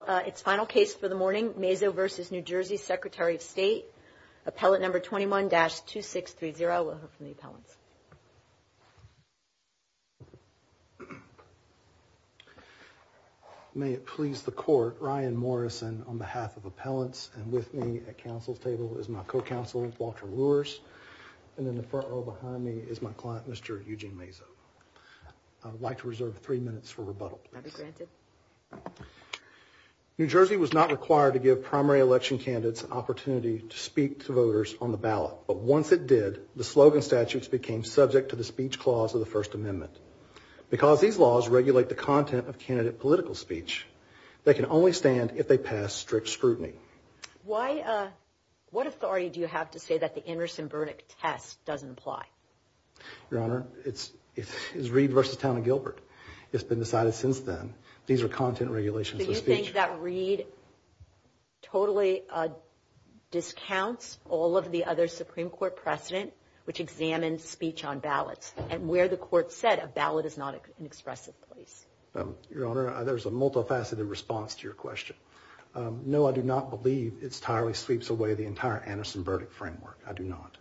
Appellant number 21-2630. We'll hear from the appellants. May it please the court, Ryan Morrison on behalf of appellants and with me at counsel's table is my co-counsel Walter Lewis. And in the front row behind me is my client, Mr. Eugene Mazo. I would like to reserve three minutes for rebuttal, please. New Jersey was not required to give primary election candidates an opportunity to speak to voters on the ballot. But once it did, the slogan statutes became subject to the speech clause of the First Amendment. Because these laws regulate the content of candidate political speech, they can only stand if they pass strict scrutiny. What authority do you have to say that the Intersen verdict test doesn't apply? Your Honor, it's Reid v. Town & Gilbert. It's been decided since then. These are content regulations for speech. Do you think that Reid totally discounts all of the other Supreme Court precedent, which examines speech on ballots, and where the court said a ballot is not an expressive place? Your Honor, there's a multifaceted response to your question. No, I do not believe it entirely sweeps away the entire Anderson verdict framework. I do not.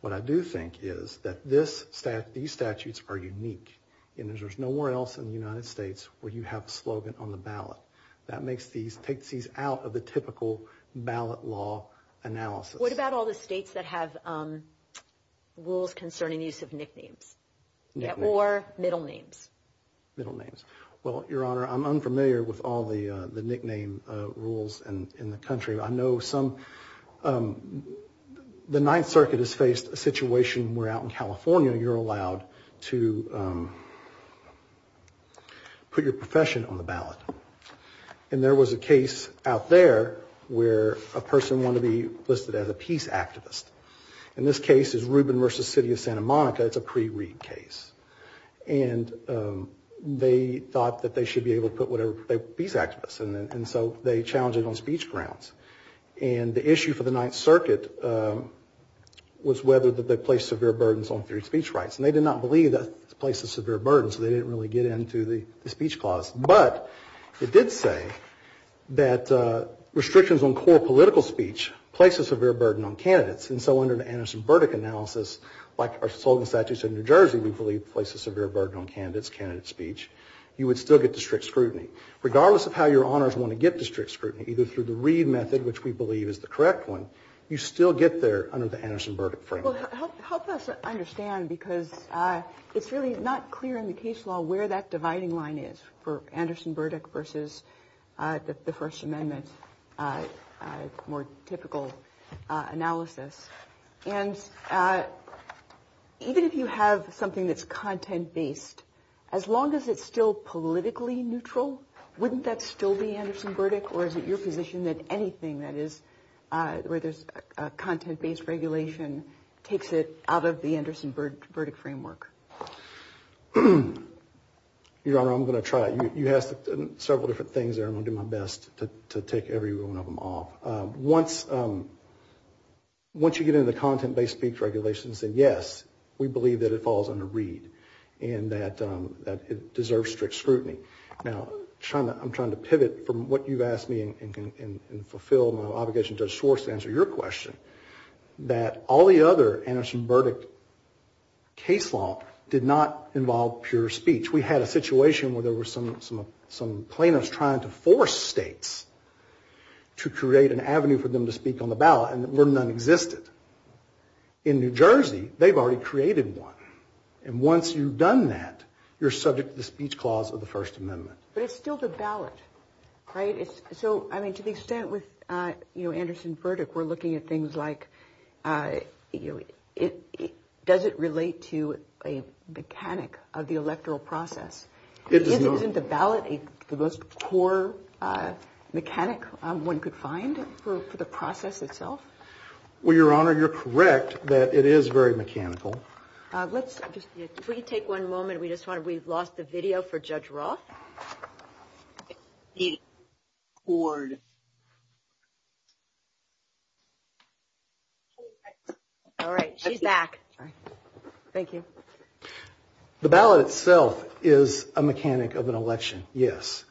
What I do think is that these statutes are unique, and there's nowhere else in the United States where you have a slogan on the ballot. That takes these out of the typical ballot law analysis. What about all the states that have rules concerning use of nicknames or middle names? Well, Your Honor, I'm unfamiliar with all the nickname rules in the country. I know some, the Ninth Circuit has faced a situation where out in California you're allowed to put your profession on the ballot. And there was a case out there where a person wanted to be listed as a peace activist. And this case is Rubin v. City of Santa Monica. It's a pre-Reid case. And they thought that they should be able to put whatever, peace activist. And so they challenged it on speech grounds. And the issue for the Ninth Circuit was whether they placed severe burdens on free speech rights. And they did not believe that it placed a severe burden, so they didn't really get into the speech clause. But it did say that restrictions on core political speech places a severe burden on candidates. And so under the Anderson-Burdick analysis, like our slogan statutes in New Jersey, we believe it places a severe burden on candidates' speech. You would still get to strict scrutiny. Regardless of how Your Honors want to get to strict scrutiny, either through the Reid method, which we believe is the correct one, you still get there under the Anderson-Burdick framework. Well, help us understand because it's really not clear in the case law where that dividing line is for Anderson-Burdick versus the First Amendment more typical analysis. And even if you have something that's content-based, as long as it's still politically neutral, wouldn't that still be Anderson-Burdick? Or is it your position that anything that is where there's a content-based regulation takes it out of the Anderson-Burdick framework? Your Honor, I'm going to try it. You asked several different things there. I'm going to do my best to tick every one of them off. Once you get into the content-based speech regulations, then yes, we believe that it falls under Reid and that it deserves strict scrutiny. Now, I'm trying to pivot from what you've asked me and fulfill my obligation to Judge Schwartz to answer your question, that all the other Anderson-Burdick case law did not involve pure speech. We had a situation where there were some plaintiffs trying to force states to create an avenue for them to speak on the ballot, and none existed. In New Jersey, they've already created one. And once you've done that, you're subject to the speech clause of the First Amendment. But it's still the ballot, right? So, I mean, to the extent with, you know, Anderson-Burdick, we're looking at things like does it relate to a mechanic of the electoral process? Isn't the ballot the most core mechanic one could find for the process itself? Well, Your Honor, you're correct that it is very mechanical. Let's just take one moment. Your Honor, we've lost the video for Judge Roth. All right, she's back. Thank you. The ballot itself is a mechanic of an election, yes.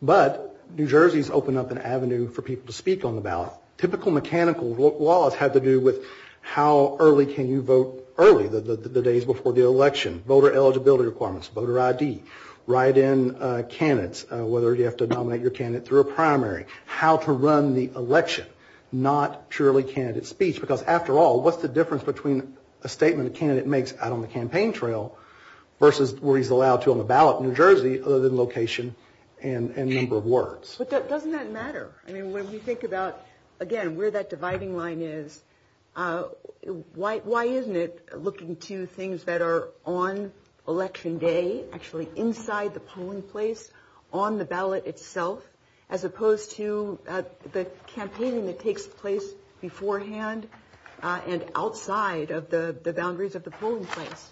But New Jersey's opened up an avenue for people to speak on the ballot. Typical mechanical laws have to do with how early can you vote early, the days before the election, voter eligibility requirements, voter ID, write-in candidates, whether you have to nominate your candidate through a primary, how to run the election, not purely candidate speech. Because, after all, what's the difference between a statement a candidate makes out on the campaign trail versus where he's allowed to on the ballot in New Jersey other than location and number of words? But doesn't that matter? I mean, when we think about, again, where that dividing line is, why isn't it looking to things that are on election day, actually inside the polling place, on the ballot itself, as opposed to the campaigning that takes place beforehand and outside of the boundaries of the polling place?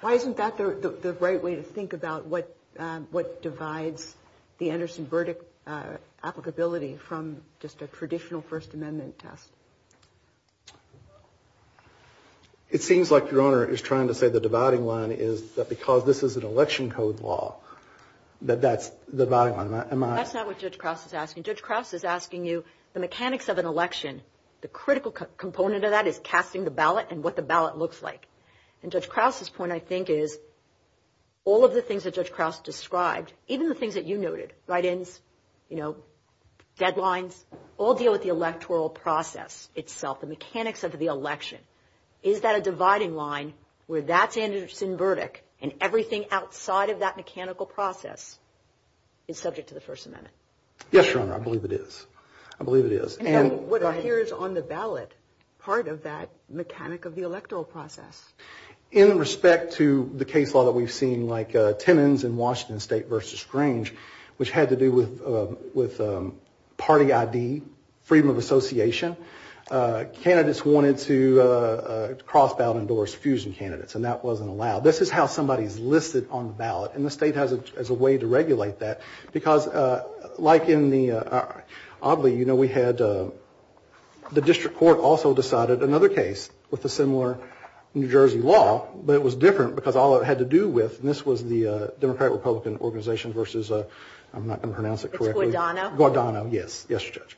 Why isn't that the right way to think about what divides the Anderson-Burdick applicability from just a traditional First Amendment test? It seems like your Honor is trying to say the dividing line is that because this is an election code law, that that's the dividing line. That's not what Judge Krause is asking. Judge Krause is asking you the mechanics of an election, the critical component of that is casting the ballot and what the ballot looks like. And Judge Krause's point, I think, is all of the things that Judge Krause described, even the things that you noted, write-ins, deadlines, all deal with the electoral process itself, the mechanics of the election. Is that a dividing line where that's Anderson-Burdick and everything outside of that mechanical process is subject to the First Amendment? Yes, Your Honor, I believe it is. I believe it is. And what appears on the ballot, part of that mechanic of the electoral process? In respect to the case law that we've seen, like Timmons in Washington State v. Grange, which had to do with party ID, freedom of association, candidates wanted to cross-ballot endorse fusion candidates, and that wasn't allowed. This is how somebody is listed on the ballot, and the state has a way to regulate that, because like in the, oddly, you know, we had the district court also decided, another case with a similar New Jersey law, but it was different because all it had to do with, and this was the Democratic-Republican organization versus, I'm not going to pronounce it correctly. It's Guadano. Guadano, yes. Yes, Judge.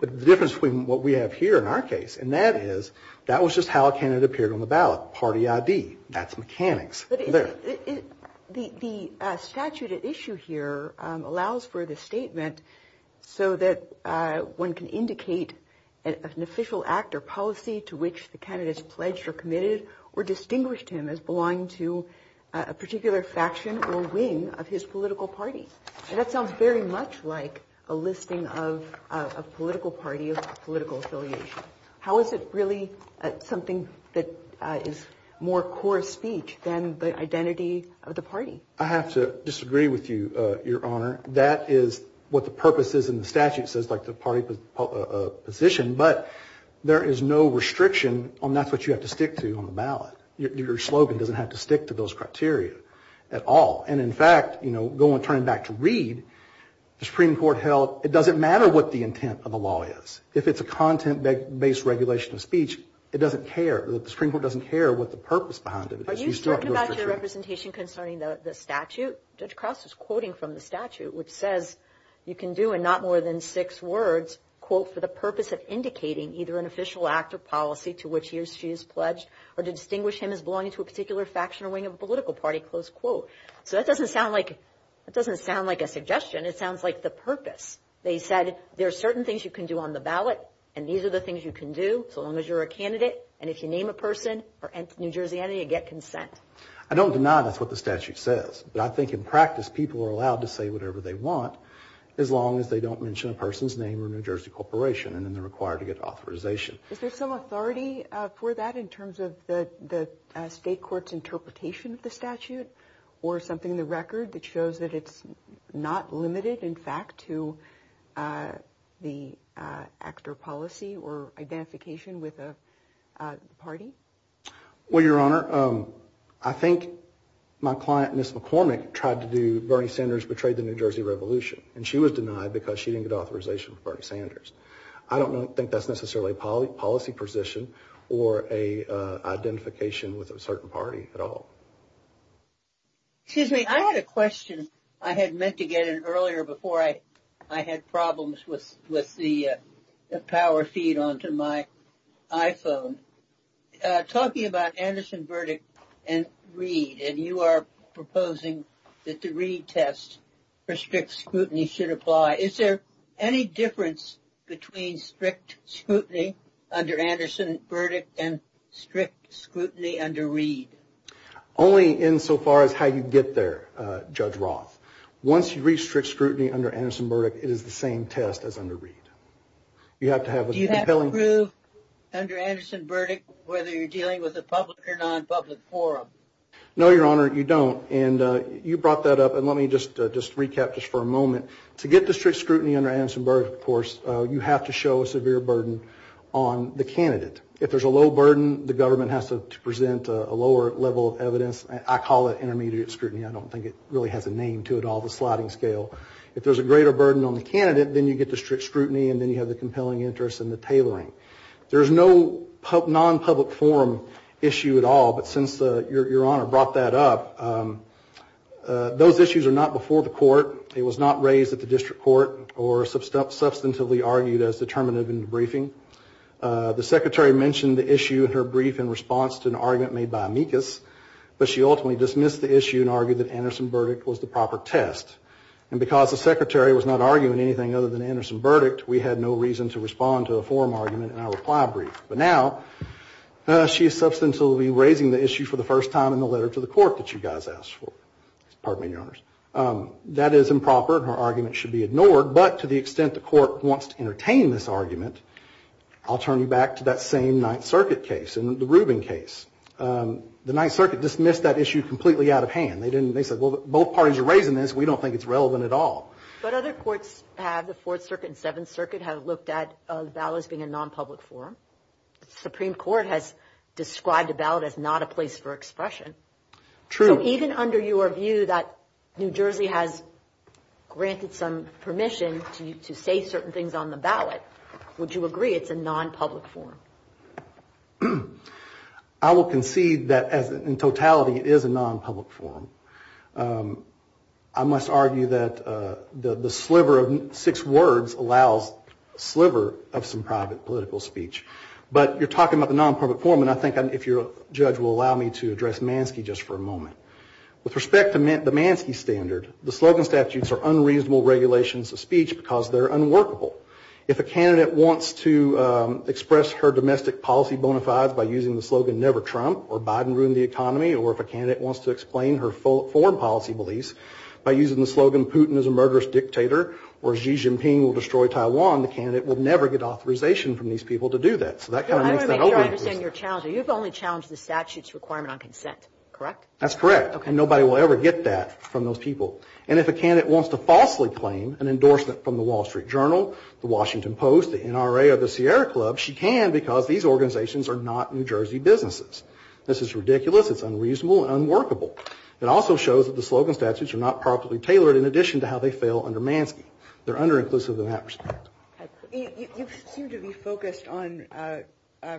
But the difference between what we have here in our case, and that is, that was just how a candidate appeared on the ballot, party ID. That's mechanics. The statute at issue here allows for the statement so that one can indicate an official act or policy to which the candidates pledged or committed or distinguished him as belonging to a particular faction or wing of his political party. And that sounds very much like a listing of a political party of political affiliation. How is it really something that is more core speech than the identity of the party? I have to disagree with you, Your Honor. That is what the purpose is in the statute, says like the party position, but there is no restriction on that's what you have to stick to on the ballot. Your slogan doesn't have to stick to those criteria at all. And, in fact, you know, going, turning back to Reed, the Supreme Court held, it doesn't matter what the intent of the law is. If it's a content-based regulation of speech, it doesn't care. The Supreme Court doesn't care what the purpose behind it is. Are you talking about your representation concerning the statute? Judge Crouse is quoting from the statute, which says, you can do in not more than six words, quote, for the purpose of indicating either an official act or policy to which he or she has pledged or to distinguish him as belonging to a particular faction or wing of a political party, close quote. So that doesn't sound like a suggestion. It sounds like the purpose. They said there are certain things you can do on the ballot, and these are the things you can do so long as you're a candidate, and if you name a person or enter New Jersey, you get consent. I don't deny that's what the statute says, but I think in practice people are allowed to say whatever they want as long as they don't mention a person's name or New Jersey corporation, and then they're required to get authorization. Is there some authority for that in terms of the state court's interpretation of the statute or something in the record that shows that it's not limited, in fact, to the actor policy or identification with a party? Well, Your Honor, I think my client, Ms. McCormick, tried to do Bernie Sanders betrayed the New Jersey revolution, and she was denied because she didn't get authorization for Bernie Sanders. I don't think that's necessarily a policy position or an identification with a certain party at all. Excuse me. I had a question I had meant to get in earlier before I had problems with the power feed onto my iPhone. Talking about Anderson verdict and Reed, and you are proposing that the Reed test for strict scrutiny should apply, is there any difference between strict scrutiny under Anderson verdict and strict scrutiny under Reed? Only insofar as how you get there, Judge Roth. Once you reach strict scrutiny under Anderson verdict, it is the same test as under Reed. Do you have to prove under Anderson verdict whether you're dealing with a public or non-public forum? No, Your Honor, you don't. And you brought that up, and let me just recap just for a moment. To get to strict scrutiny under Anderson verdict, of course, you have to show a severe burden on the candidate. If there's a low burden, the government has to present a lower level of evidence. I call it intermediate scrutiny. I don't think it really has a name to it at all, the sliding scale. If there's a greater burden on the candidate, then you get to strict scrutiny, and then you have the compelling interest and the tailoring. There is no non-public forum issue at all, but since Your Honor brought that up, those issues are not before the court. It was not raised at the district court or substantively argued as determinative in the briefing. The secretary mentioned the issue in her brief in response to an argument made by amicus, but she ultimately dismissed the issue and argued that Anderson verdict was the proper test. And because the secretary was not arguing anything other than Anderson verdict, we had no reason to respond to a forum argument in our reply brief. But now she is substantively raising the issue for the first time in the letter to the court that you guys asked for. Pardon me, Your Honors. That is improper, and her argument should be ignored, but to the extent the court wants to entertain this argument, I'll turn you back to that same Ninth Circuit case and the Rubin case. The Ninth Circuit dismissed that issue completely out of hand. They said, well, both parties are raising this. We don't think it's relevant at all. But other courts have, the Fourth Circuit and Seventh Circuit, have looked at ballots being a non-public forum. The Supreme Court has described a ballot as not a place for expression. True. So even under your view that New Jersey has granted some permission to say certain things on the ballot, would you agree it's a non-public forum? I will concede that in totality it is a non-public forum. I must argue that the sliver of six words allows a sliver of some private political speech. But you're talking about the non-public forum, and I think if your judge will allow me to address Mansky just for a moment. With respect to the Mansky standard, the slogan statutes are unreasonable regulations of speech because they're unworkable. If a candidate wants to express her domestic policy bona fides by using the slogan, never Trump, or Biden ruin the economy, or if a candidate wants to explain her foreign policy beliefs by using the slogan, Putin is a murderous dictator, or Xi Jinping will destroy Taiwan, the candidate will never get authorization from these people to do that. I want to make sure I understand your challenge. You've only challenged the statute's requirement on consent, correct? That's correct. And nobody will ever get that from those people. And if a candidate wants to falsely claim an endorsement from the Wall Street Journal, the Washington Post, the NRA, or the Sierra Club, she can because these organizations are not New Jersey businesses. This is ridiculous. It's unreasonable and unworkable. It also shows that the slogan statutes are not properly tailored in addition to how they fail under Mansky. They're under-inclusive in that respect. You seem to be focused on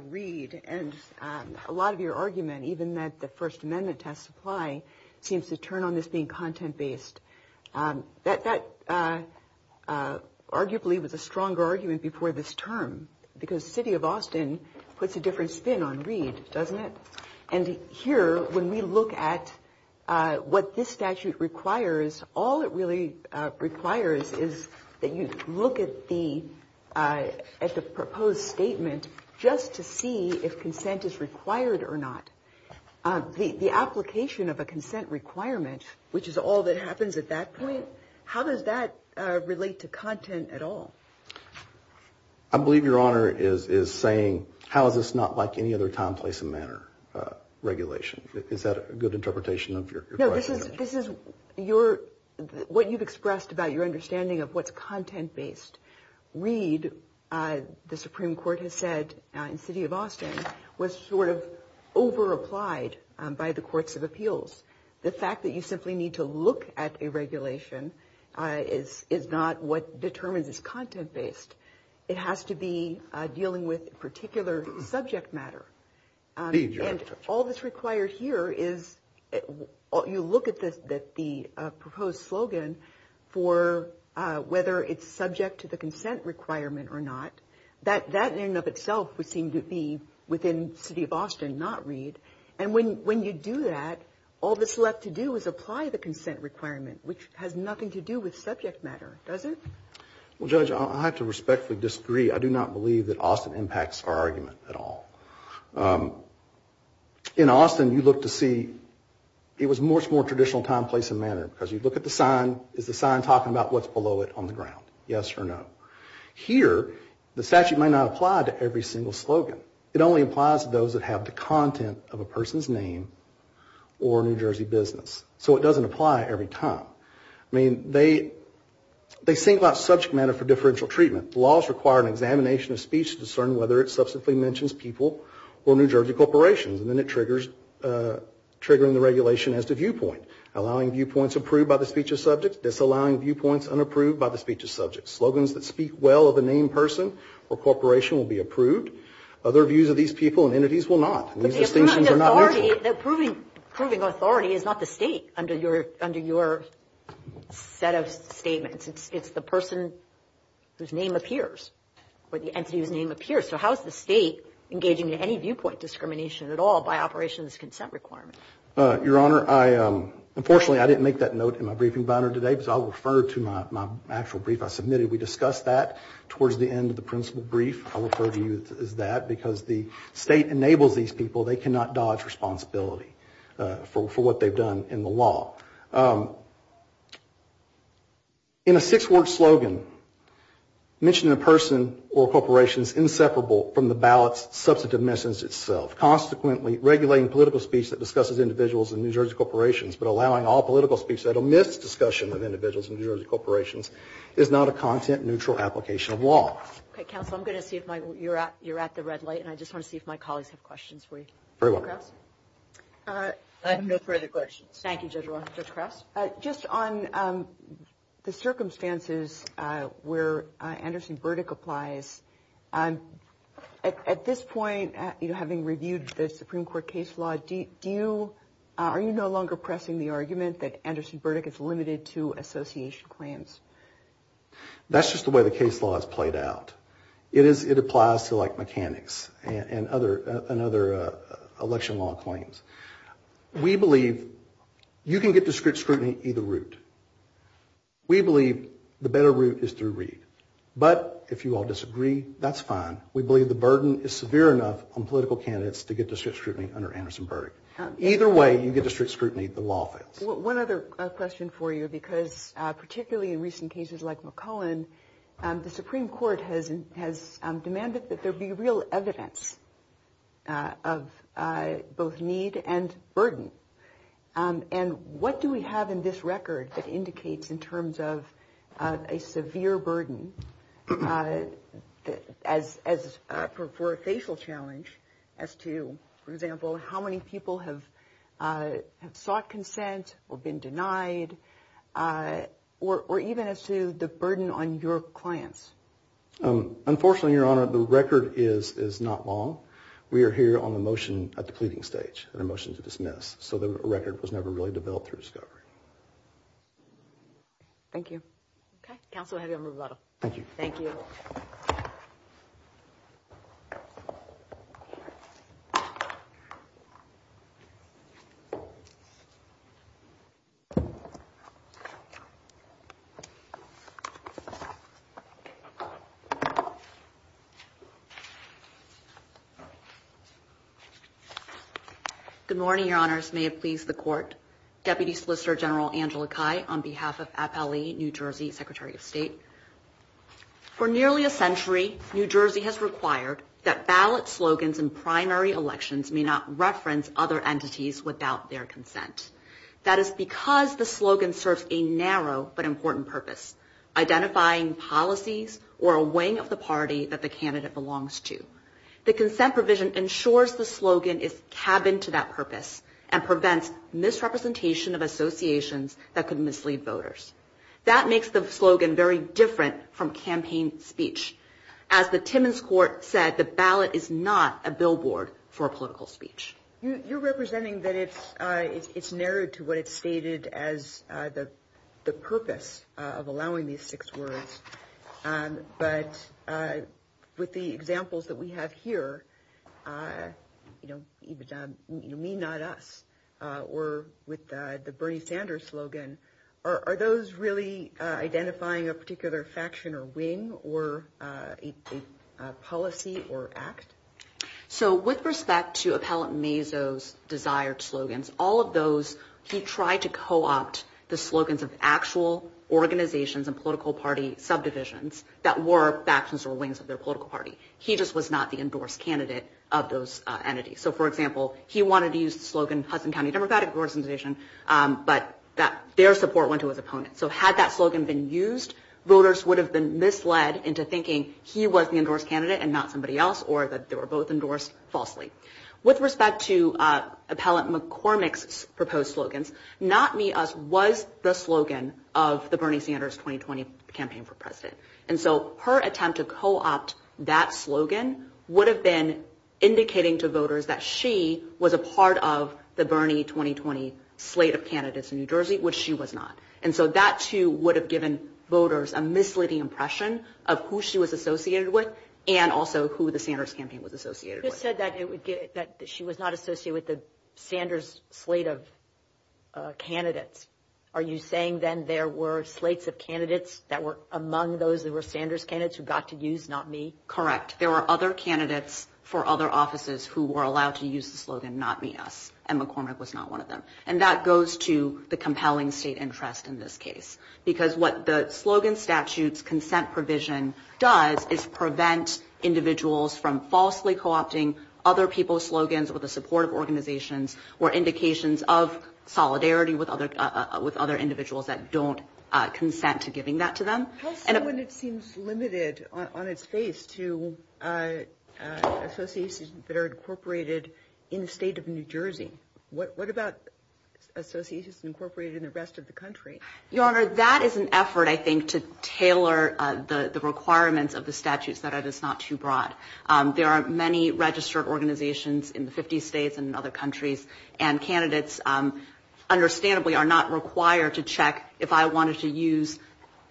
Reed, and a lot of your argument, even that the First Amendment has supply, seems to turn on this being content-based. That arguably was a stronger argument before this term because the city of Austin puts a different spin on Reed, doesn't it? And here, when we look at what this statute requires, all it really requires is that you look at the proposed statement just to see if consent is required or not. The application of a consent requirement, which is all that happens at that point, how does that relate to content at all? I believe Your Honor is saying, how is this not like any other time, place, and manner regulation? Is that a good interpretation of your question? This is what you've expressed about your understanding of what's content-based. Reed, the Supreme Court has said in the city of Austin, was sort of over-applied by the courts of appeals. The fact that you simply need to look at a regulation is not what determines it's content-based. It has to be dealing with a particular subject matter. And all that's required here is you look at the proposed slogan for whether it's subject to the consent requirement or not. That in and of itself would seem to be within the city of Austin, not Reed. And when you do that, all that's left to do is apply the consent requirement, which has nothing to do with subject matter, does it? Well, Judge, I have to respectfully disagree. I do not believe that Austin impacts our argument at all. In Austin, you look to see, it was much more traditional time, place, and manner, because you look at the sign, is the sign talking about what's below it on the ground? Yes or no? Here, the statute might not apply to every single slogan. It only applies to those that have the content of a person's name or New Jersey business. So it doesn't apply every time. I mean, they think about subject matter for differential treatment. Laws require an examination of speech to discern whether it substantively mentions people or New Jersey corporations. And then it triggers triggering the regulation as to viewpoint, allowing viewpoints approved by the speech of subject, disallowing viewpoints unapproved by the speech of subject. Slogans that speak well of a named person or corporation will be approved. Other views of these people and entities will not. And these distinctions are not neutral. But the approving authority is not the state under your set of statements. It's the person whose name appears or the entity whose name appears. So how is the state engaging in any viewpoint discrimination at all by operation of this consent requirement? Your Honor, unfortunately, I didn't make that note in my briefing binder today, because I'll refer to my actual brief I submitted. We discussed that towards the end of the principal brief. I'll refer to you as that, because the state enables these people. They cannot dodge responsibility for what they've done in the law. In a six-word slogan, mentioning a person or corporation is inseparable from the ballot's substantive message itself. Consequently, regulating political speech that discusses individuals and New Jersey corporations, but allowing all political speech that omits discussion of individuals and New Jersey corporations, is not a content-neutral application of law. Okay, counsel, I'm going to see if you're at the red light, and I just want to see if my colleagues have questions for you. Very well. I have no further questions. Thank you, Judge Roth. Judge Krause? Just on the circumstances where Anderson-Burdick applies, at this point, having reviewed the Supreme Court case law, are you no longer pressing the argument that Anderson-Burdick is limited to association claims? That's just the way the case law is played out. It applies to, like, mechanics and other election law claims. We believe you can get to strict scrutiny either route. We believe the better route is through Reed. But if you all disagree, that's fine. We believe the burden is severe enough on political candidates to get to strict scrutiny under Anderson-Burdick. Either way, you get to strict scrutiny, the law fails. One other question for you, because particularly in recent cases like McClellan, the Supreme Court has demanded that there be real evidence of both need and burden. And what do we have in this record that indicates in terms of a severe burden for a facial challenge as to, for example, how many people have sought consent or been denied, or even as to the burden on your clients? Unfortunately, Your Honor, the record is not long. We are here on a motion at the pleading stage and a motion to dismiss. So the record was never really developed through discovery. Thank you. Okay. Counsel, I have you on rebuttal. Thank you. Thank you. Good morning, Your Honors. May it please the Court. Deputy Solicitor General Angela Cai on behalf of FLE New Jersey Secretary of State. For nearly a century, New Jersey has required that ballot slogans in primary elections may not reference other entities without their consent. That is because the slogan serves a narrow but important purpose, identifying policies or a wing of the party that the candidate belongs to. The consent provision ensures the slogan is cabined to that purpose and prevents misrepresentation of associations that could mislead voters. That makes the slogan very different from campaign speech. As the Timmons Court said, the ballot is not a billboard for political speech. You're representing that it's narrowed to what it's stated as the purpose of allowing these six words. But with the examples that we have here, you know, me, not us, or with the Bernie Sanders slogan, are those really identifying a particular faction or wing or a policy or act? So with respect to Appellant Mazo's desired slogans, all of those he tried to co-opt the slogans of actual organizations and political party subdivisions that were factions or wings of their political party. He just was not the endorsed candidate of those entities. So, for example, he wanted to use the slogan Hudson County Democratic Organization, but their support went to his opponent. So had that slogan been used, voters would have been misled into thinking he was the endorsed candidate and not somebody else or that they were both endorsed falsely. With respect to Appellant McCormick's proposed slogans, not me, us was the slogan of the Bernie Sanders 2020 campaign for president. And so her attempt to co-opt that slogan would have been indicating to voters that she was a part of the Bernie 2020 slate of candidates in New Jersey, which she was not. And so that, too, would have given voters a misleading impression of who she was associated with and also who the Sanders campaign was associated with. You said that she was not associated with the Sanders slate of candidates. Are you saying then there were slates of candidates that were among those that were Sanders candidates who got to use not me? Correct. There were other candidates for other offices who were allowed to use the slogan not me, us, and McCormick was not one of them. And that goes to the compelling state interest in this case, because what the slogan statute's consent provision does is prevent individuals from falsely co-opting other people's slogans with the support of organizations or indications of solidarity with other individuals that don't consent to giving that to them. How is it when it seems limited on its face to associations that are incorporated in the state of New Jersey? What about associations incorporated in the rest of the country? Your Honor, that is an effort, I think, to tailor the requirements of the statutes that are just not too broad. There are many registered organizations in the 50 states and other countries, and candidates understandably are not required to check if I wanted to use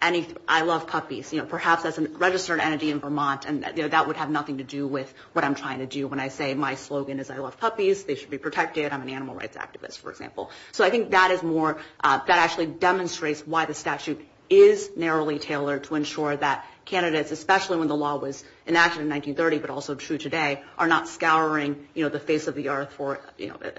I love puppies, perhaps as a registered entity in Vermont. And that would have nothing to do with what I'm trying to do when I say my slogan is I love puppies, they should be protected, I'm an animal rights activist, for example. So I think that is more, that actually demonstrates why the statute is narrowly tailored to ensure that candidates, especially when the law was enacted in 1930 but also true today, are not scouring the face of the earth for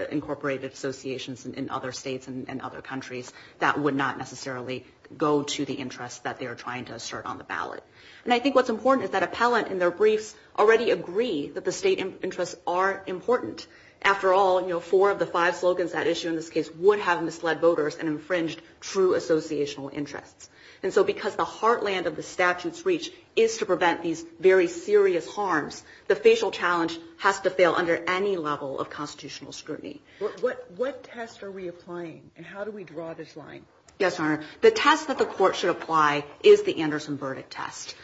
incorporated associations in other states and other countries that would not necessarily go to the interests that they are trying to assert on the ballot. And I think what's important is that appellant in their briefs already agree that the state interests are important. After all, you know, four of the five slogans that issue in this case would have misled voters and infringed true associational interests. And so because the heartland of the statute's reach is to prevent these very serious harms, the facial challenge has to fail under any level of constitutional scrutiny. What test are we applying, and how do we draw this line? Yes, Your Honor. The test that the court should apply is the Anderson-Burdick test.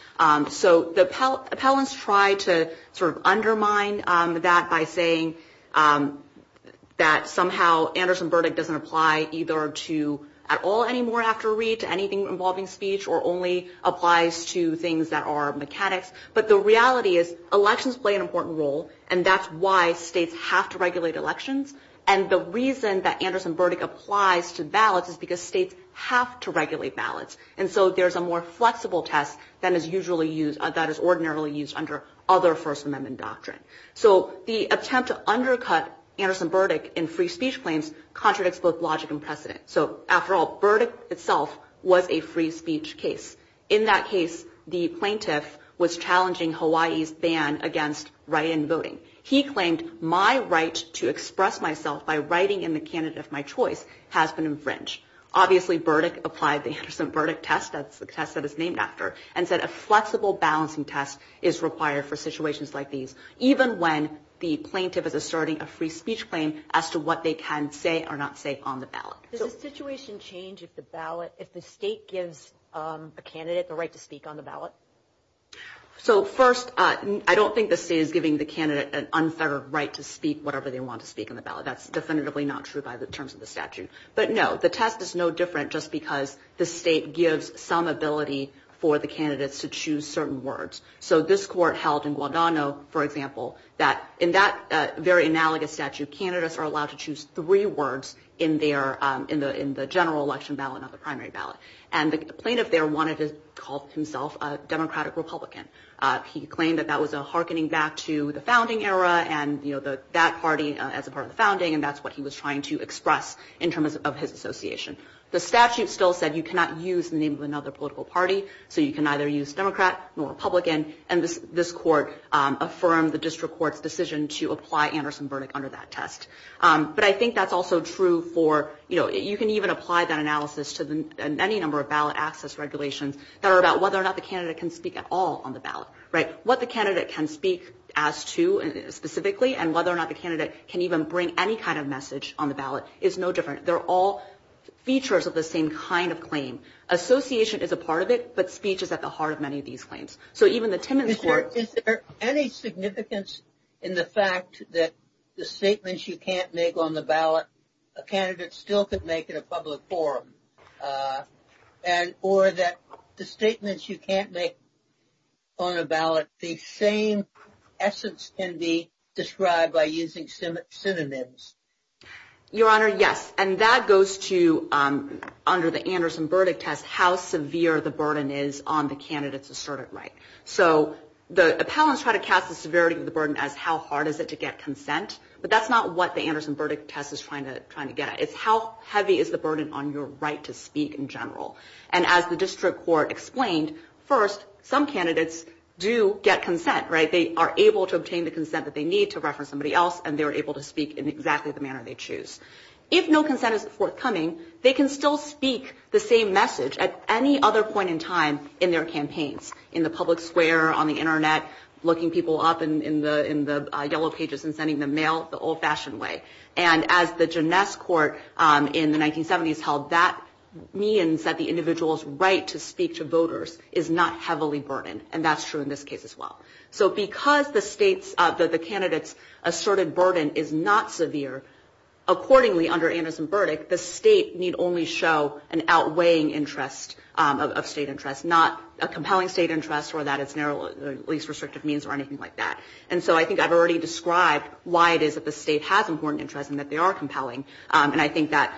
So the appellants try to sort of undermine that by saying that somehow Anderson-Burdick doesn't apply either to at all anymore after a read, to anything involving speech, or only applies to things that are mechanics. But the reality is elections play an important role, and that's why states have to regulate elections. And the reason that Anderson-Burdick applies to ballots is because states have to regulate ballots. And so there's a more flexible test that is ordinarily used under other First Amendment doctrine. So the attempt to undercut Anderson-Burdick in free speech claims contradicts both logic and precedent. So, after all, Burdick itself was a free speech case. In that case, the plaintiff was challenging Hawaii's ban against write-in voting. He claimed, my right to express myself by writing in the candidate of my choice has been infringed. Obviously, Burdick applied the Anderson-Burdick test, that's the test that it's named after, and said a flexible balancing test is required for situations like these, even when the plaintiff is asserting a free speech claim as to what they can say or not say on the ballot. Does the situation change if the state gives a candidate the right to speak on the ballot? So, first, I don't think the state is giving the candidate an unfettered right to speak whatever they want to speak on the ballot. That's definitively not true by the terms of the statute. But, no, the test is no different just because the state gives some ability for the candidates to choose certain words. So this court held in Guadagno, for example, that in that very analogous statute, candidates are allowed to choose three words in the general election ballot, not the primary ballot. And the plaintiff there wanted to call himself a Democratic-Republican. He claimed that that was a hearkening back to the founding era and that party as a part of the founding, and that's what he was trying to express in terms of his association. The statute still said you cannot use the name of another political party, so you can neither use Democrat nor Republican, and this court affirmed the district court's decision to apply Anderson-Burdick under that test. But I think that's also true for, you know, you can even apply that analysis to any number of ballot access regulations that are about whether or not the candidate can speak at all on the ballot, right? What the candidate can speak as to, specifically, and whether or not the candidate can even bring any kind of message on the ballot is no different. They're all features of the same kind of claim. Association is a part of it, but speech is at the heart of many of these claims. Is there any significance in the fact that the statements you can't make on the ballot, a candidate still could make in a public forum, or that the statements you can't make on a ballot, the same essence can be described by using synonyms? Your Honor, yes, and that goes to, under the Anderson-Burdick test, how severe the burden is on the candidate's asserted right. So the appellants try to cast the severity of the burden as how hard is it to get consent, but that's not what the Anderson-Burdick test is trying to get at. It's how heavy is the burden on your right to speak in general. And as the district court explained, first, some candidates do get consent, right? They are able to obtain the consent that they need to reference somebody else, and they're able to speak in exactly the manner they choose. If no consent is forthcoming, they can still speak the same message at any other point in time in their campaigns, in the public square, on the Internet, looking people up in the yellow pages and sending them mail the old-fashioned way. And as the Janess court in the 1970s held, that means that the individual's right to speak to voters is not heavily burdened, and that's true in this case as well. So because the candidates' asserted burden is not severe, accordingly under Anderson-Burdick, the state need only show an outweighing interest of state interest, not a compelling state interest or that it's narrow, at least restrictive means or anything like that. And so I think I've already described why it is that the state has important interest and that they are compelling, and I think that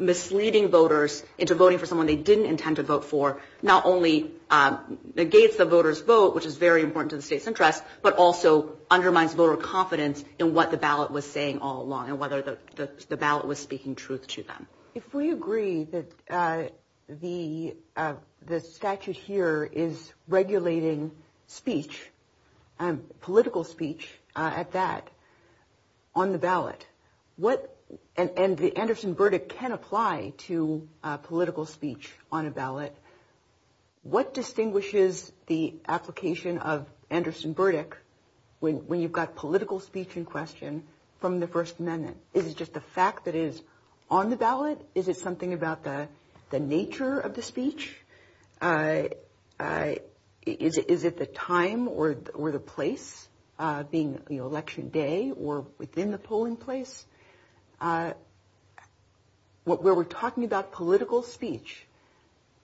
misleading voters into voting for someone they didn't intend to vote for not only negates the voter's vote, which is very important to the state's interest, but also undermines voter confidence in what the ballot was saying all along and whether the ballot was speaking truth to them. If we agree that the statute here is regulating speech, political speech at that, on the ballot, and the Anderson-Burdick can apply to political speech on a ballot, what distinguishes the application of Anderson-Burdick, when you've got political speech in question, from the First Amendment? Is it just the fact that it is on the ballot? Is it something about the nature of the speech? Is it the time or the place, being Election Day or within the polling place? Where we're talking about political speech,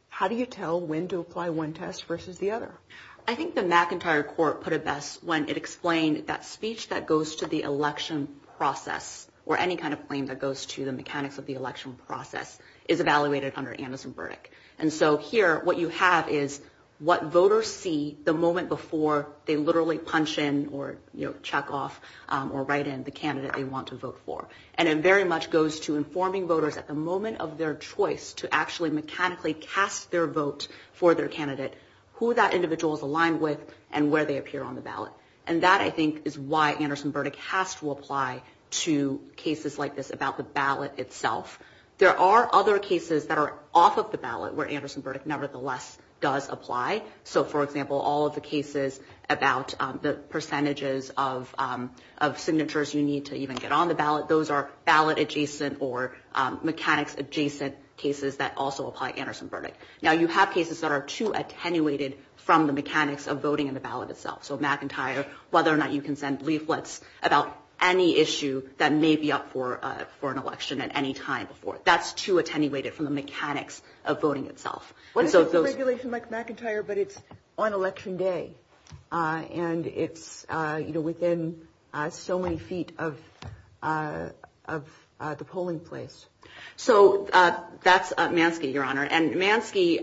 how do you tell when to apply one test versus the other? I think the McIntyre Court put it best when it explained that speech that goes to the election process or any kind of claim that goes to the mechanics of the election process is evaluated under Anderson-Burdick. And so here, what you have is what voters see the moment before they literally punch in or check off or write in the candidate they want to vote for. And it very much goes to informing voters at the moment of their choice to actually mechanically cast their vote for their candidate who that individual is aligned with and where they appear on the ballot. And that, I think, is why Anderson-Burdick has to apply to cases like this about the ballot itself. There are other cases that are off of the ballot where Anderson-Burdick nevertheless does apply. So, for example, all of the cases about the percentages of signatures you need to even get on the ballot, those are ballot-adjacent or mechanics-adjacent cases that also apply Anderson-Burdick. Now, you have cases that are too attenuated from the mechanics of voting in the ballot itself. So McIntyre, whether or not you can send leaflets about any issue that may be up for an election at any time before, that's too attenuated from the mechanics of voting itself. What if it's a regulation like McIntyre but it's on election day and it's within so many feet of the polling place? So that's Mansky, Your Honor, and Mansky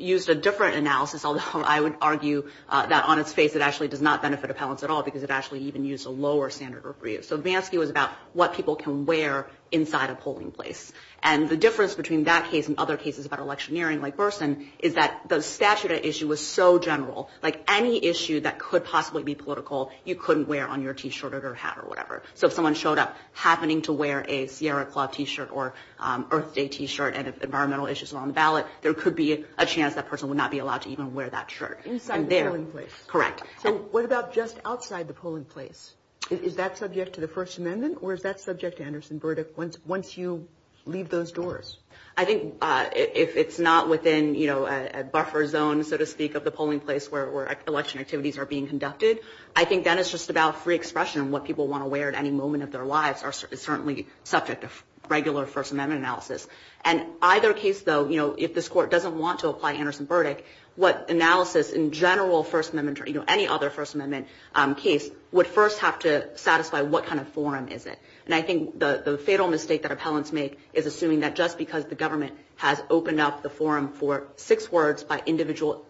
used a different analysis, although I would argue that on its face it actually does not benefit appellants at all because it actually even used a lower standard of review. So Mansky was about what people can wear inside a polling place. And the difference between that case and other cases about electioneering, like Burson, is that the statute at issue was so general. Like any issue that could possibly be political, you couldn't wear on your T-shirt or hat or whatever. So if someone showed up happening to wear a Sierra Club T-shirt or Earth Day T-shirt and if environmental issues were on the ballot, there could be a chance that person would not be allowed to even wear that shirt. Inside the polling place? Correct. So what about just outside the polling place? Is that subject to the First Amendment or is that subject to Anderson-Burdick once you leave those doors? I think if it's not within a buffer zone, so to speak, of the polling place where election activities are being conducted, I think that is just about free expression and what people want to wear at any moment of their lives is certainly subject to regular First Amendment analysis. And either case, though, if this Court doesn't want to apply Anderson-Burdick, what analysis in general First Amendment or any other First Amendment case would first have to satisfy what kind of forum is it. And I think the fatal mistake that appellants make is assuming that just because the government has opened up the forum for six words by individuals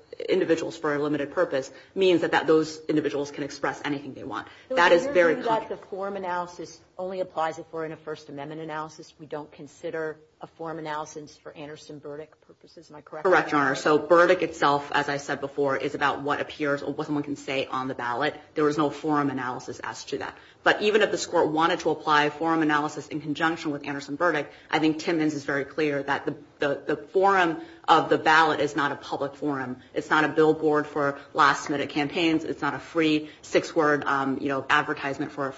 for a limited purpose means that those individuals can express anything they want. That is very clear. The forum analysis only applies if we're in a First Amendment analysis. We don't consider a forum analysis for Anderson-Burdick purposes. Am I correct? Correct, Your Honor. So Burdick itself, as I said before, is about what appears or what someone can say on the ballot. There is no forum analysis as to that. But even if this Court wanted to apply a forum analysis in conjunction with Anderson-Burdick, I think Timmons is very clear that the forum of the ballot is not a public forum. It's not a billboard for last-minute campaigns. It's not a free six-word advertisement for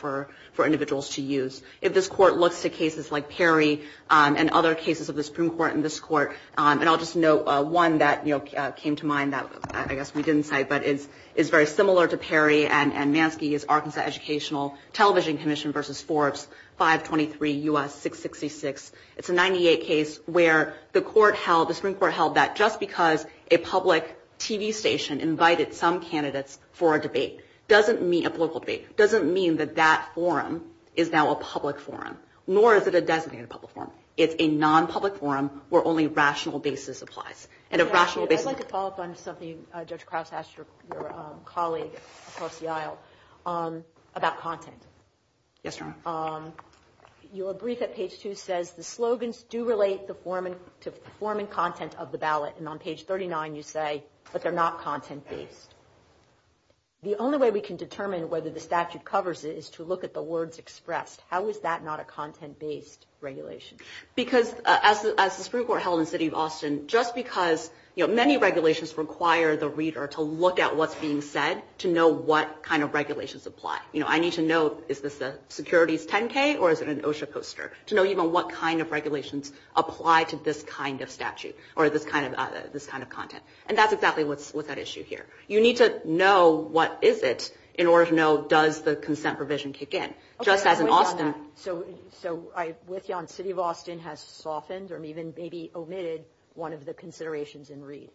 individuals to use. If this Court looks to cases like Perry and other cases of the Supreme Court in this Court, and I'll just note one that came to mind that I guess we didn't cite but is very similar to Perry and Mansky is Arkansas Educational Television Commission v. Forbes 523 U.S. 666. It's a 98 case where the Supreme Court held that just because a public TV station invited some candidates for a debate doesn't mean a political debate, doesn't mean that that forum is now a public forum, nor is it a designated public forum. It's a non-public forum where only rational basis applies. I'd like to follow up on something Judge Krause asked your colleague across the aisle about content. Yes, Your Honor. Your brief at page 2 says the slogans do relate to the form and content of the ballot, and on page 39 you say that they're not content-based. The only way we can determine whether the statute covers it is to look at the words expressed. How is that not a content-based regulation? Because as the Supreme Court held in the city of Austin, just because many regulations require the reader to look at what's being said to know what kind of regulations apply. You know, I need to know is this a securities 10-K or is it an OSHA poster, to know even what kind of regulations apply to this kind of statute or this kind of content. And that's exactly what's at issue here. You need to know what is it in order to know does the consent provision kick in. Just as in Austin. So I'm with you on city of Austin has softened or even maybe omitted one of the considerations in Reed.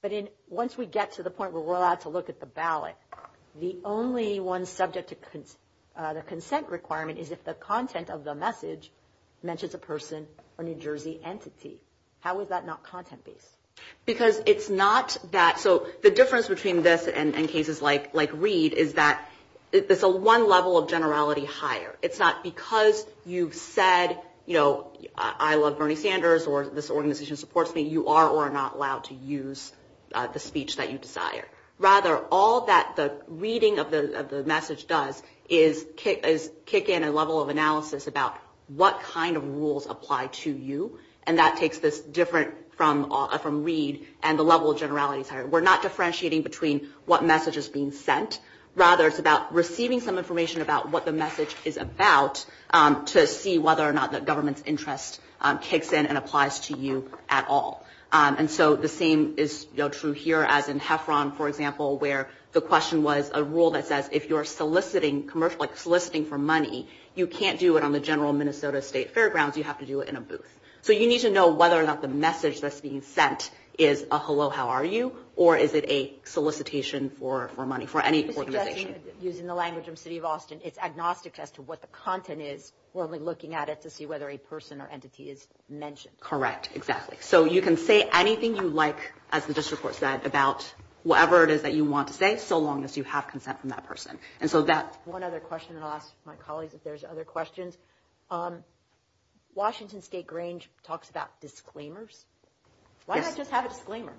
But once we get to the point where we're allowed to look at the ballot, the only one subject to the consent requirement is if the content of the message mentions a person or New Jersey entity. How is that not content-based? Because it's not that, so the difference between this and cases like Reed is that it's a one level of generality higher. It's not because you've said, you know, I love Bernie Sanders or this organization supports me, you are or are not allowed to use the speech that you desire. Rather, all that the reading of the message does is kick in a level of analysis about what kind of rules apply to you. And that takes this different from Reed and the level of generalities higher. We're not differentiating between what message is being sent. Rather, it's about receiving some information about what the message is about to see whether or not the government's interest kicks in and applies to you at all. And so the same is true here as in Heffron, for example, where the question was a rule that says if you're soliciting for money, you can't do it on the general Minnesota state fairgrounds, you have to do it in a booth. So you need to know whether or not the message that's being sent is a hello, how are you, or is it a solicitation for money for any organization. Using the language from the city of Austin, it's agnostic as to what the content is. We're only looking at it to see whether a person or entity is mentioned. Correct, exactly. So you can say anything you like, as the district court said, about whatever it is that you want to say so long as you have consent from that person. And so that's one other question that I'll ask my colleagues if there's other questions. Washington State Grange talks about disclaimers. Why not just have a disclaimer?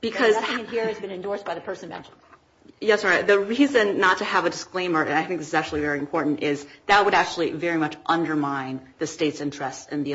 Because nothing in here has been endorsed by the person mentioned. Yes, the reason not to have a disclaimer, and I think this is actually very important, is that would actually very much undermine the state's interest in the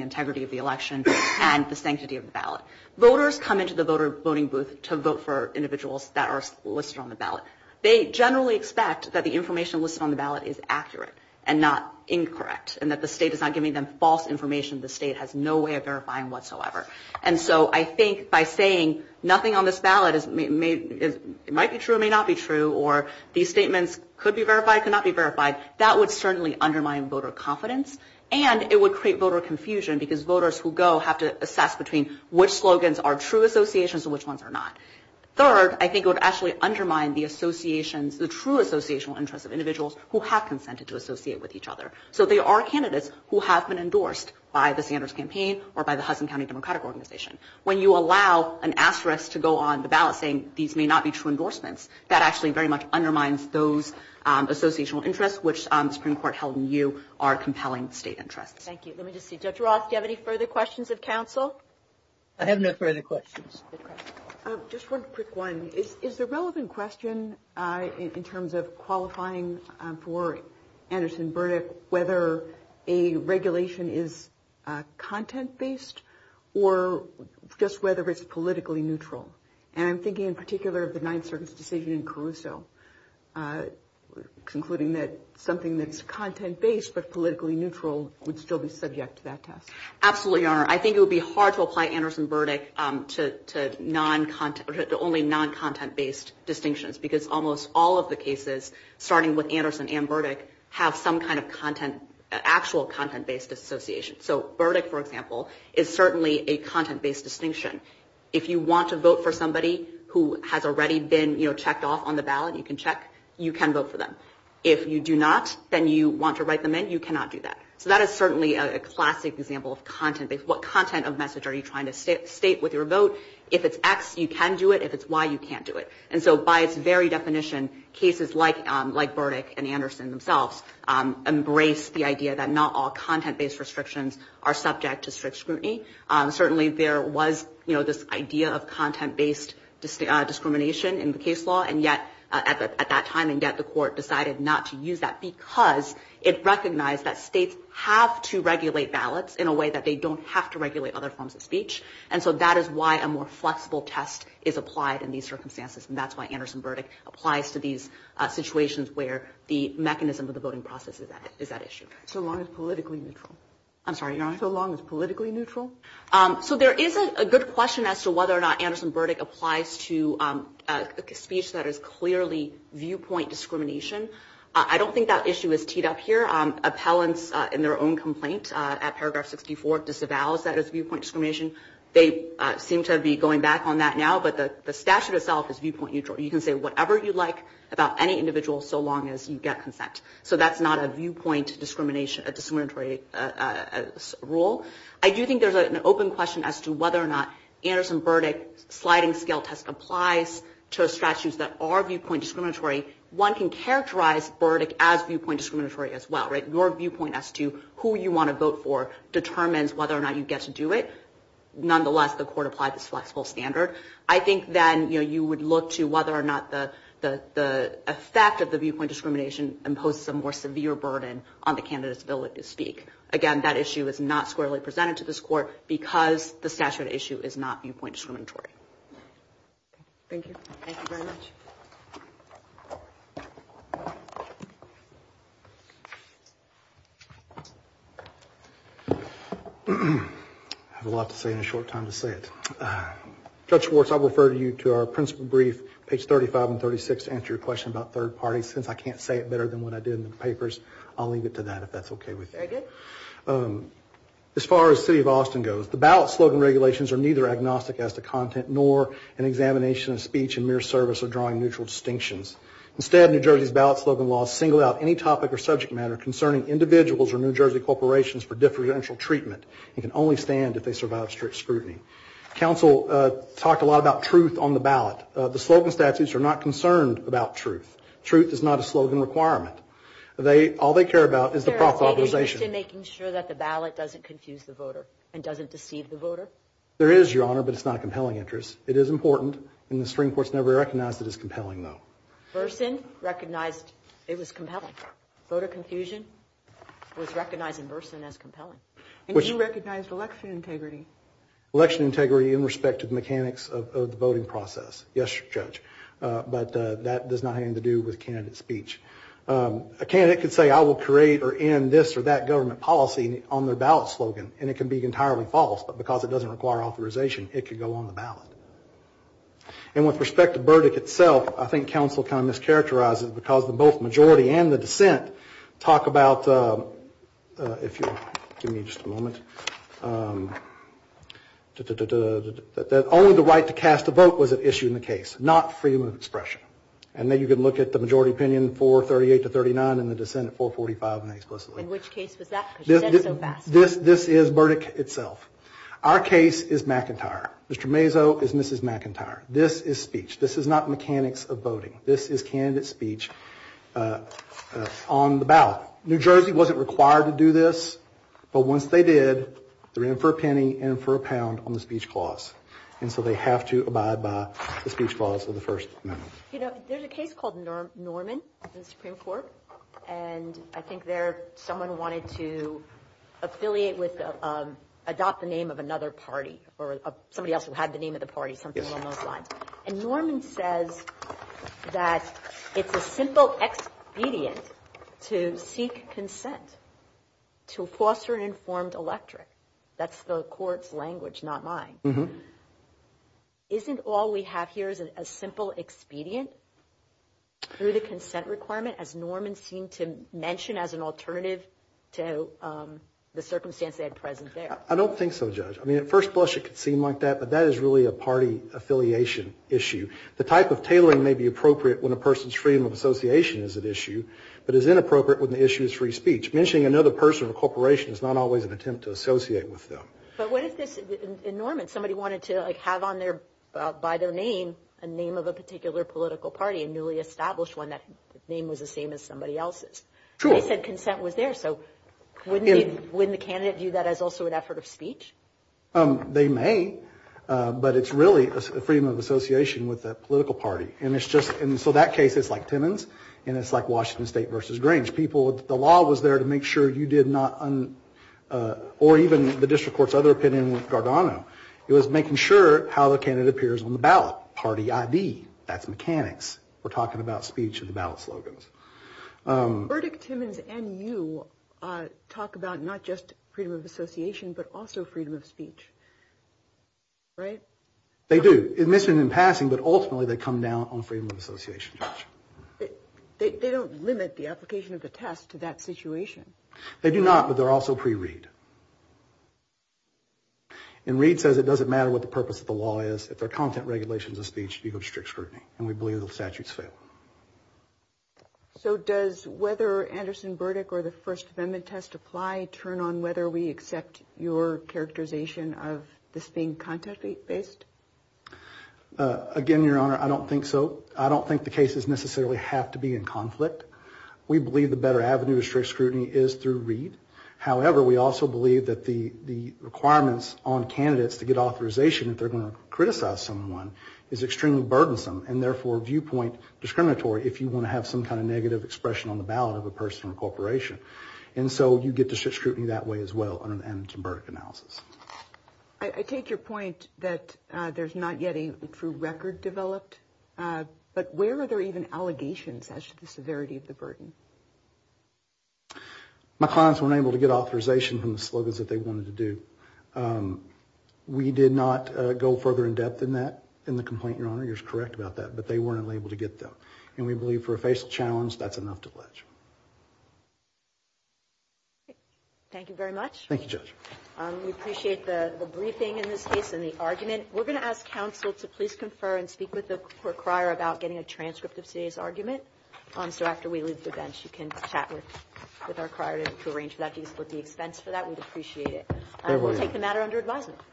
integrity of the election and the sanctity of the ballot. Voters come into the voter voting booth to vote for individuals that are listed on the ballot. They generally expect that the information listed on the ballot is accurate and not incorrect and that the state is not giving them false information the state has no way of verifying whatsoever. And so I think by saying nothing on this ballot might be true or may not be true or these statements could be verified, could not be verified, that would certainly undermine voter confidence and it would create voter confusion because voters who go have to assess between which slogans are true associations and which ones are not. Third, I think it would actually undermine the associations, the true associational interests of individuals who have consented to associate with each other. So there are candidates who have been endorsed by the Sanders campaign or by the Hudson County Democratic Organization. When you allow an asterisk to go on the ballot saying these may not be true endorsements, that actually very much undermines those associational interests, which the Supreme Court held in you are compelling state interests. Thank you. Let me just see. Dr. Roth, do you have any further questions of counsel? I have no further questions. Just one quick one. Is the relevant question in terms of qualifying for Anderson-Burdick whether a regulation is content-based or just whether it's politically neutral? And I'm thinking in particular of the Ninth Circuit's decision in Caruso, concluding that something that's content-based but politically neutral would still be subject to that test. Absolutely, Your Honor. I think it would be hard to apply Anderson-Burdick to only non-content-based distinctions because almost all of the cases, starting with Anderson and Burdick, have some kind of actual content-based association. So Burdick, for example, is certainly a content-based distinction. If you want to vote for somebody who has already been checked off on the ballot, you can check. You can vote for them. If you do not, then you want to write them in. You cannot do that. So that is certainly a classic example of content-based. What content of message are you trying to state with your vote? If it's X, you can do it. If it's Y, you can't do it. And so by its very definition, cases like Burdick and Anderson themselves embrace the idea that not all content-based restrictions are subject to strict scrutiny. Certainly there was this idea of content-based discrimination in the case law, and yet at that time, the court decided not to use that because it recognized that states have to regulate ballots in a way that they don't have to regulate other forms of speech. And so that is why a more flexible test is applied in these circumstances, and that's why Anderson-Burdick applies to these situations where the mechanism of the voting process is at issue. So long as politically neutral? I'm sorry, Your Honor? So long as politically neutral? So there is a good question as to whether or not Anderson-Burdick applies to a speech that is clearly viewpoint discrimination. I don't think that issue is teed up here. Appellants in their own complaint at paragraph 64 disavows that as viewpoint discrimination. They seem to be going back on that now, but the statute itself is viewpoint neutral. You can say whatever you like about any individual so long as you get consent. So that's not a viewpoint discriminatory rule. I do think there's an open question as to whether or not Anderson-Burdick sliding scale test applies to statutes that are viewpoint discriminatory. One can characterize Burdick as viewpoint discriminatory as well, right? Your viewpoint as to who you want to vote for determines whether or not you get to do it. Nonetheless, the court applied this flexible standard. I think then, you know, you would look to whether or not the effect of the viewpoint discrimination imposes a more severe burden on the candidate's ability to speak. Again, that issue is not squarely presented to this court because the statute issue is not viewpoint discriminatory. Thank you. Thank you very much. I have a lot to say in a short time to say it. Judge Schwartz, I will refer you to our principal brief, page 35 and 36, to answer your question about third parties. Since I can't say it better than what I did in the papers, I'll leave it to that if that's okay with you. Very good. As far as the city of Austin goes, the ballot slogan regulations are neither agnostic as to content nor an examination of speech in mere service of drawing neutral distinctions. Instead, New Jersey's ballot slogan laws single out any topic or subject matter concerning individuals or New Jersey corporations for differential treatment and can only stand if they survive strict scrutiny. Counsel talked a lot about truth on the ballot. The slogan statutes are not concerned about truth. Truth is not a slogan requirement. All they care about is the proper authorization. Is there a stated interest in making sure that the ballot doesn't confuse the voter and doesn't deceive the voter? There is, Your Honor, but it's not a compelling interest. It is important, and the Supreme Court's never recognized it as compelling, though. Burson recognized it was compelling. Voter confusion was recognized in Burson as compelling. And you recognized election integrity. Election integrity in respect to the mechanics of the voting process. Yes, Judge. But that does not have anything to do with candidate speech. A candidate could say, I will create or end this or that government policy on their ballot slogan, and it can be entirely false, but because it doesn't require authorization, it could go on the ballot. And with respect to Burdick itself, I think counsel kind of mischaracterizes it because the both majority and the dissent talk about, if you'll give me just a moment, that only the right to cast a vote was at issue in the case, not freedom of expression. And then you can look at the majority opinion, 438 to 39, and the dissent at 445 inexplicably. In which case was that? Because you said it so fast. This is Burdick itself. Our case is McIntyre. Mr. Mazo is Mrs. McIntyre. This is speech. This is not mechanics of voting. This is candidate speech on the ballot. New Jersey wasn't required to do this, but once they did, they ran for a penny and for a pound on the speech clause. And so they have to abide by the speech clause of the First Amendment. You know, there's a case called Norman in the Supreme Court, and I think there someone wanted to affiliate with, adopt the name of another party or somebody else who had the name of the party, something along those lines. And Norman says that it's a simple expedient to seek consent to foster an informed electorate. That's the court's language, not mine. Isn't all we have here is a simple expedient through the consent requirement, as Norman seemed to mention as an alternative to the circumstance they had present there? I don't think so, Judge. I mean, at first blush it could seem like that, but that is really a party affiliation issue. The type of tailoring may be appropriate when a person's freedom of association is at issue, but is inappropriate when the issue is free speech. Mentioning another person or corporation is not always an attempt to associate with them. But what if this, in Norman, somebody wanted to, like, have on their, by their name, a name of a particular political party, a newly established one, that name was the same as somebody else's. Sure. They said consent was there. So wouldn't the candidate view that as also an effort of speech? They may, but it's really a freedom of association with that political party. And it's just, and so that case is like Timmons, and it's like Washington State versus Grange. People, the law was there to make sure you did not, or even the district court's other opinion with Gargano. It was making sure how the candidate appears on the ballot, party ID. That's mechanics. We're talking about speech and the ballot slogans. Burdick, Timmons, and you talk about not just freedom of association, but also freedom of speech. Right? They do. Admission and passing, but ultimately they come down on freedom of association. They don't limit the application of the test to that situation. They do not, but they're also pre-reed. And reed says it doesn't matter what the purpose of the law is, if there are content regulations of speech, you go to strict scrutiny, and we believe the statutes fail. So does whether Anderson, Burdick, or the First Amendment test apply turn on whether we accept your characterization of this being content-based? Again, Your Honor, I don't think so. I don't think the cases necessarily have to be in conflict. We believe the better avenue of strict scrutiny is through reed. However, we also believe that the requirements on candidates to get authorization if they're going to criticize someone is extremely burdensome, and therefore viewpoint discriminatory if you want to have some kind of negative expression on the ballot of a person or corporation. And so you get to strict scrutiny that way as well under the Anderson-Burdick analysis. I take your point that there's not yet a true record developed, but where are there even allegations as to the severity of the burden? My clients weren't able to get authorization from the slogans that they wanted to do. We did not go further in depth than that in the complaint, Your Honor. You're correct about that, but they weren't able to get them. And we believe for a facial challenge, that's enough to pledge. Thank you very much. Thank you, Judge. We appreciate the briefing in this case and the argument. We're going to ask counsel to please confer and speak with the requirer about getting a transcript of today's argument. So after we leave the bench, you can chat with our requirer to arrange for that, to split the expense for that. We'd appreciate it. We'll take the matter under advisement.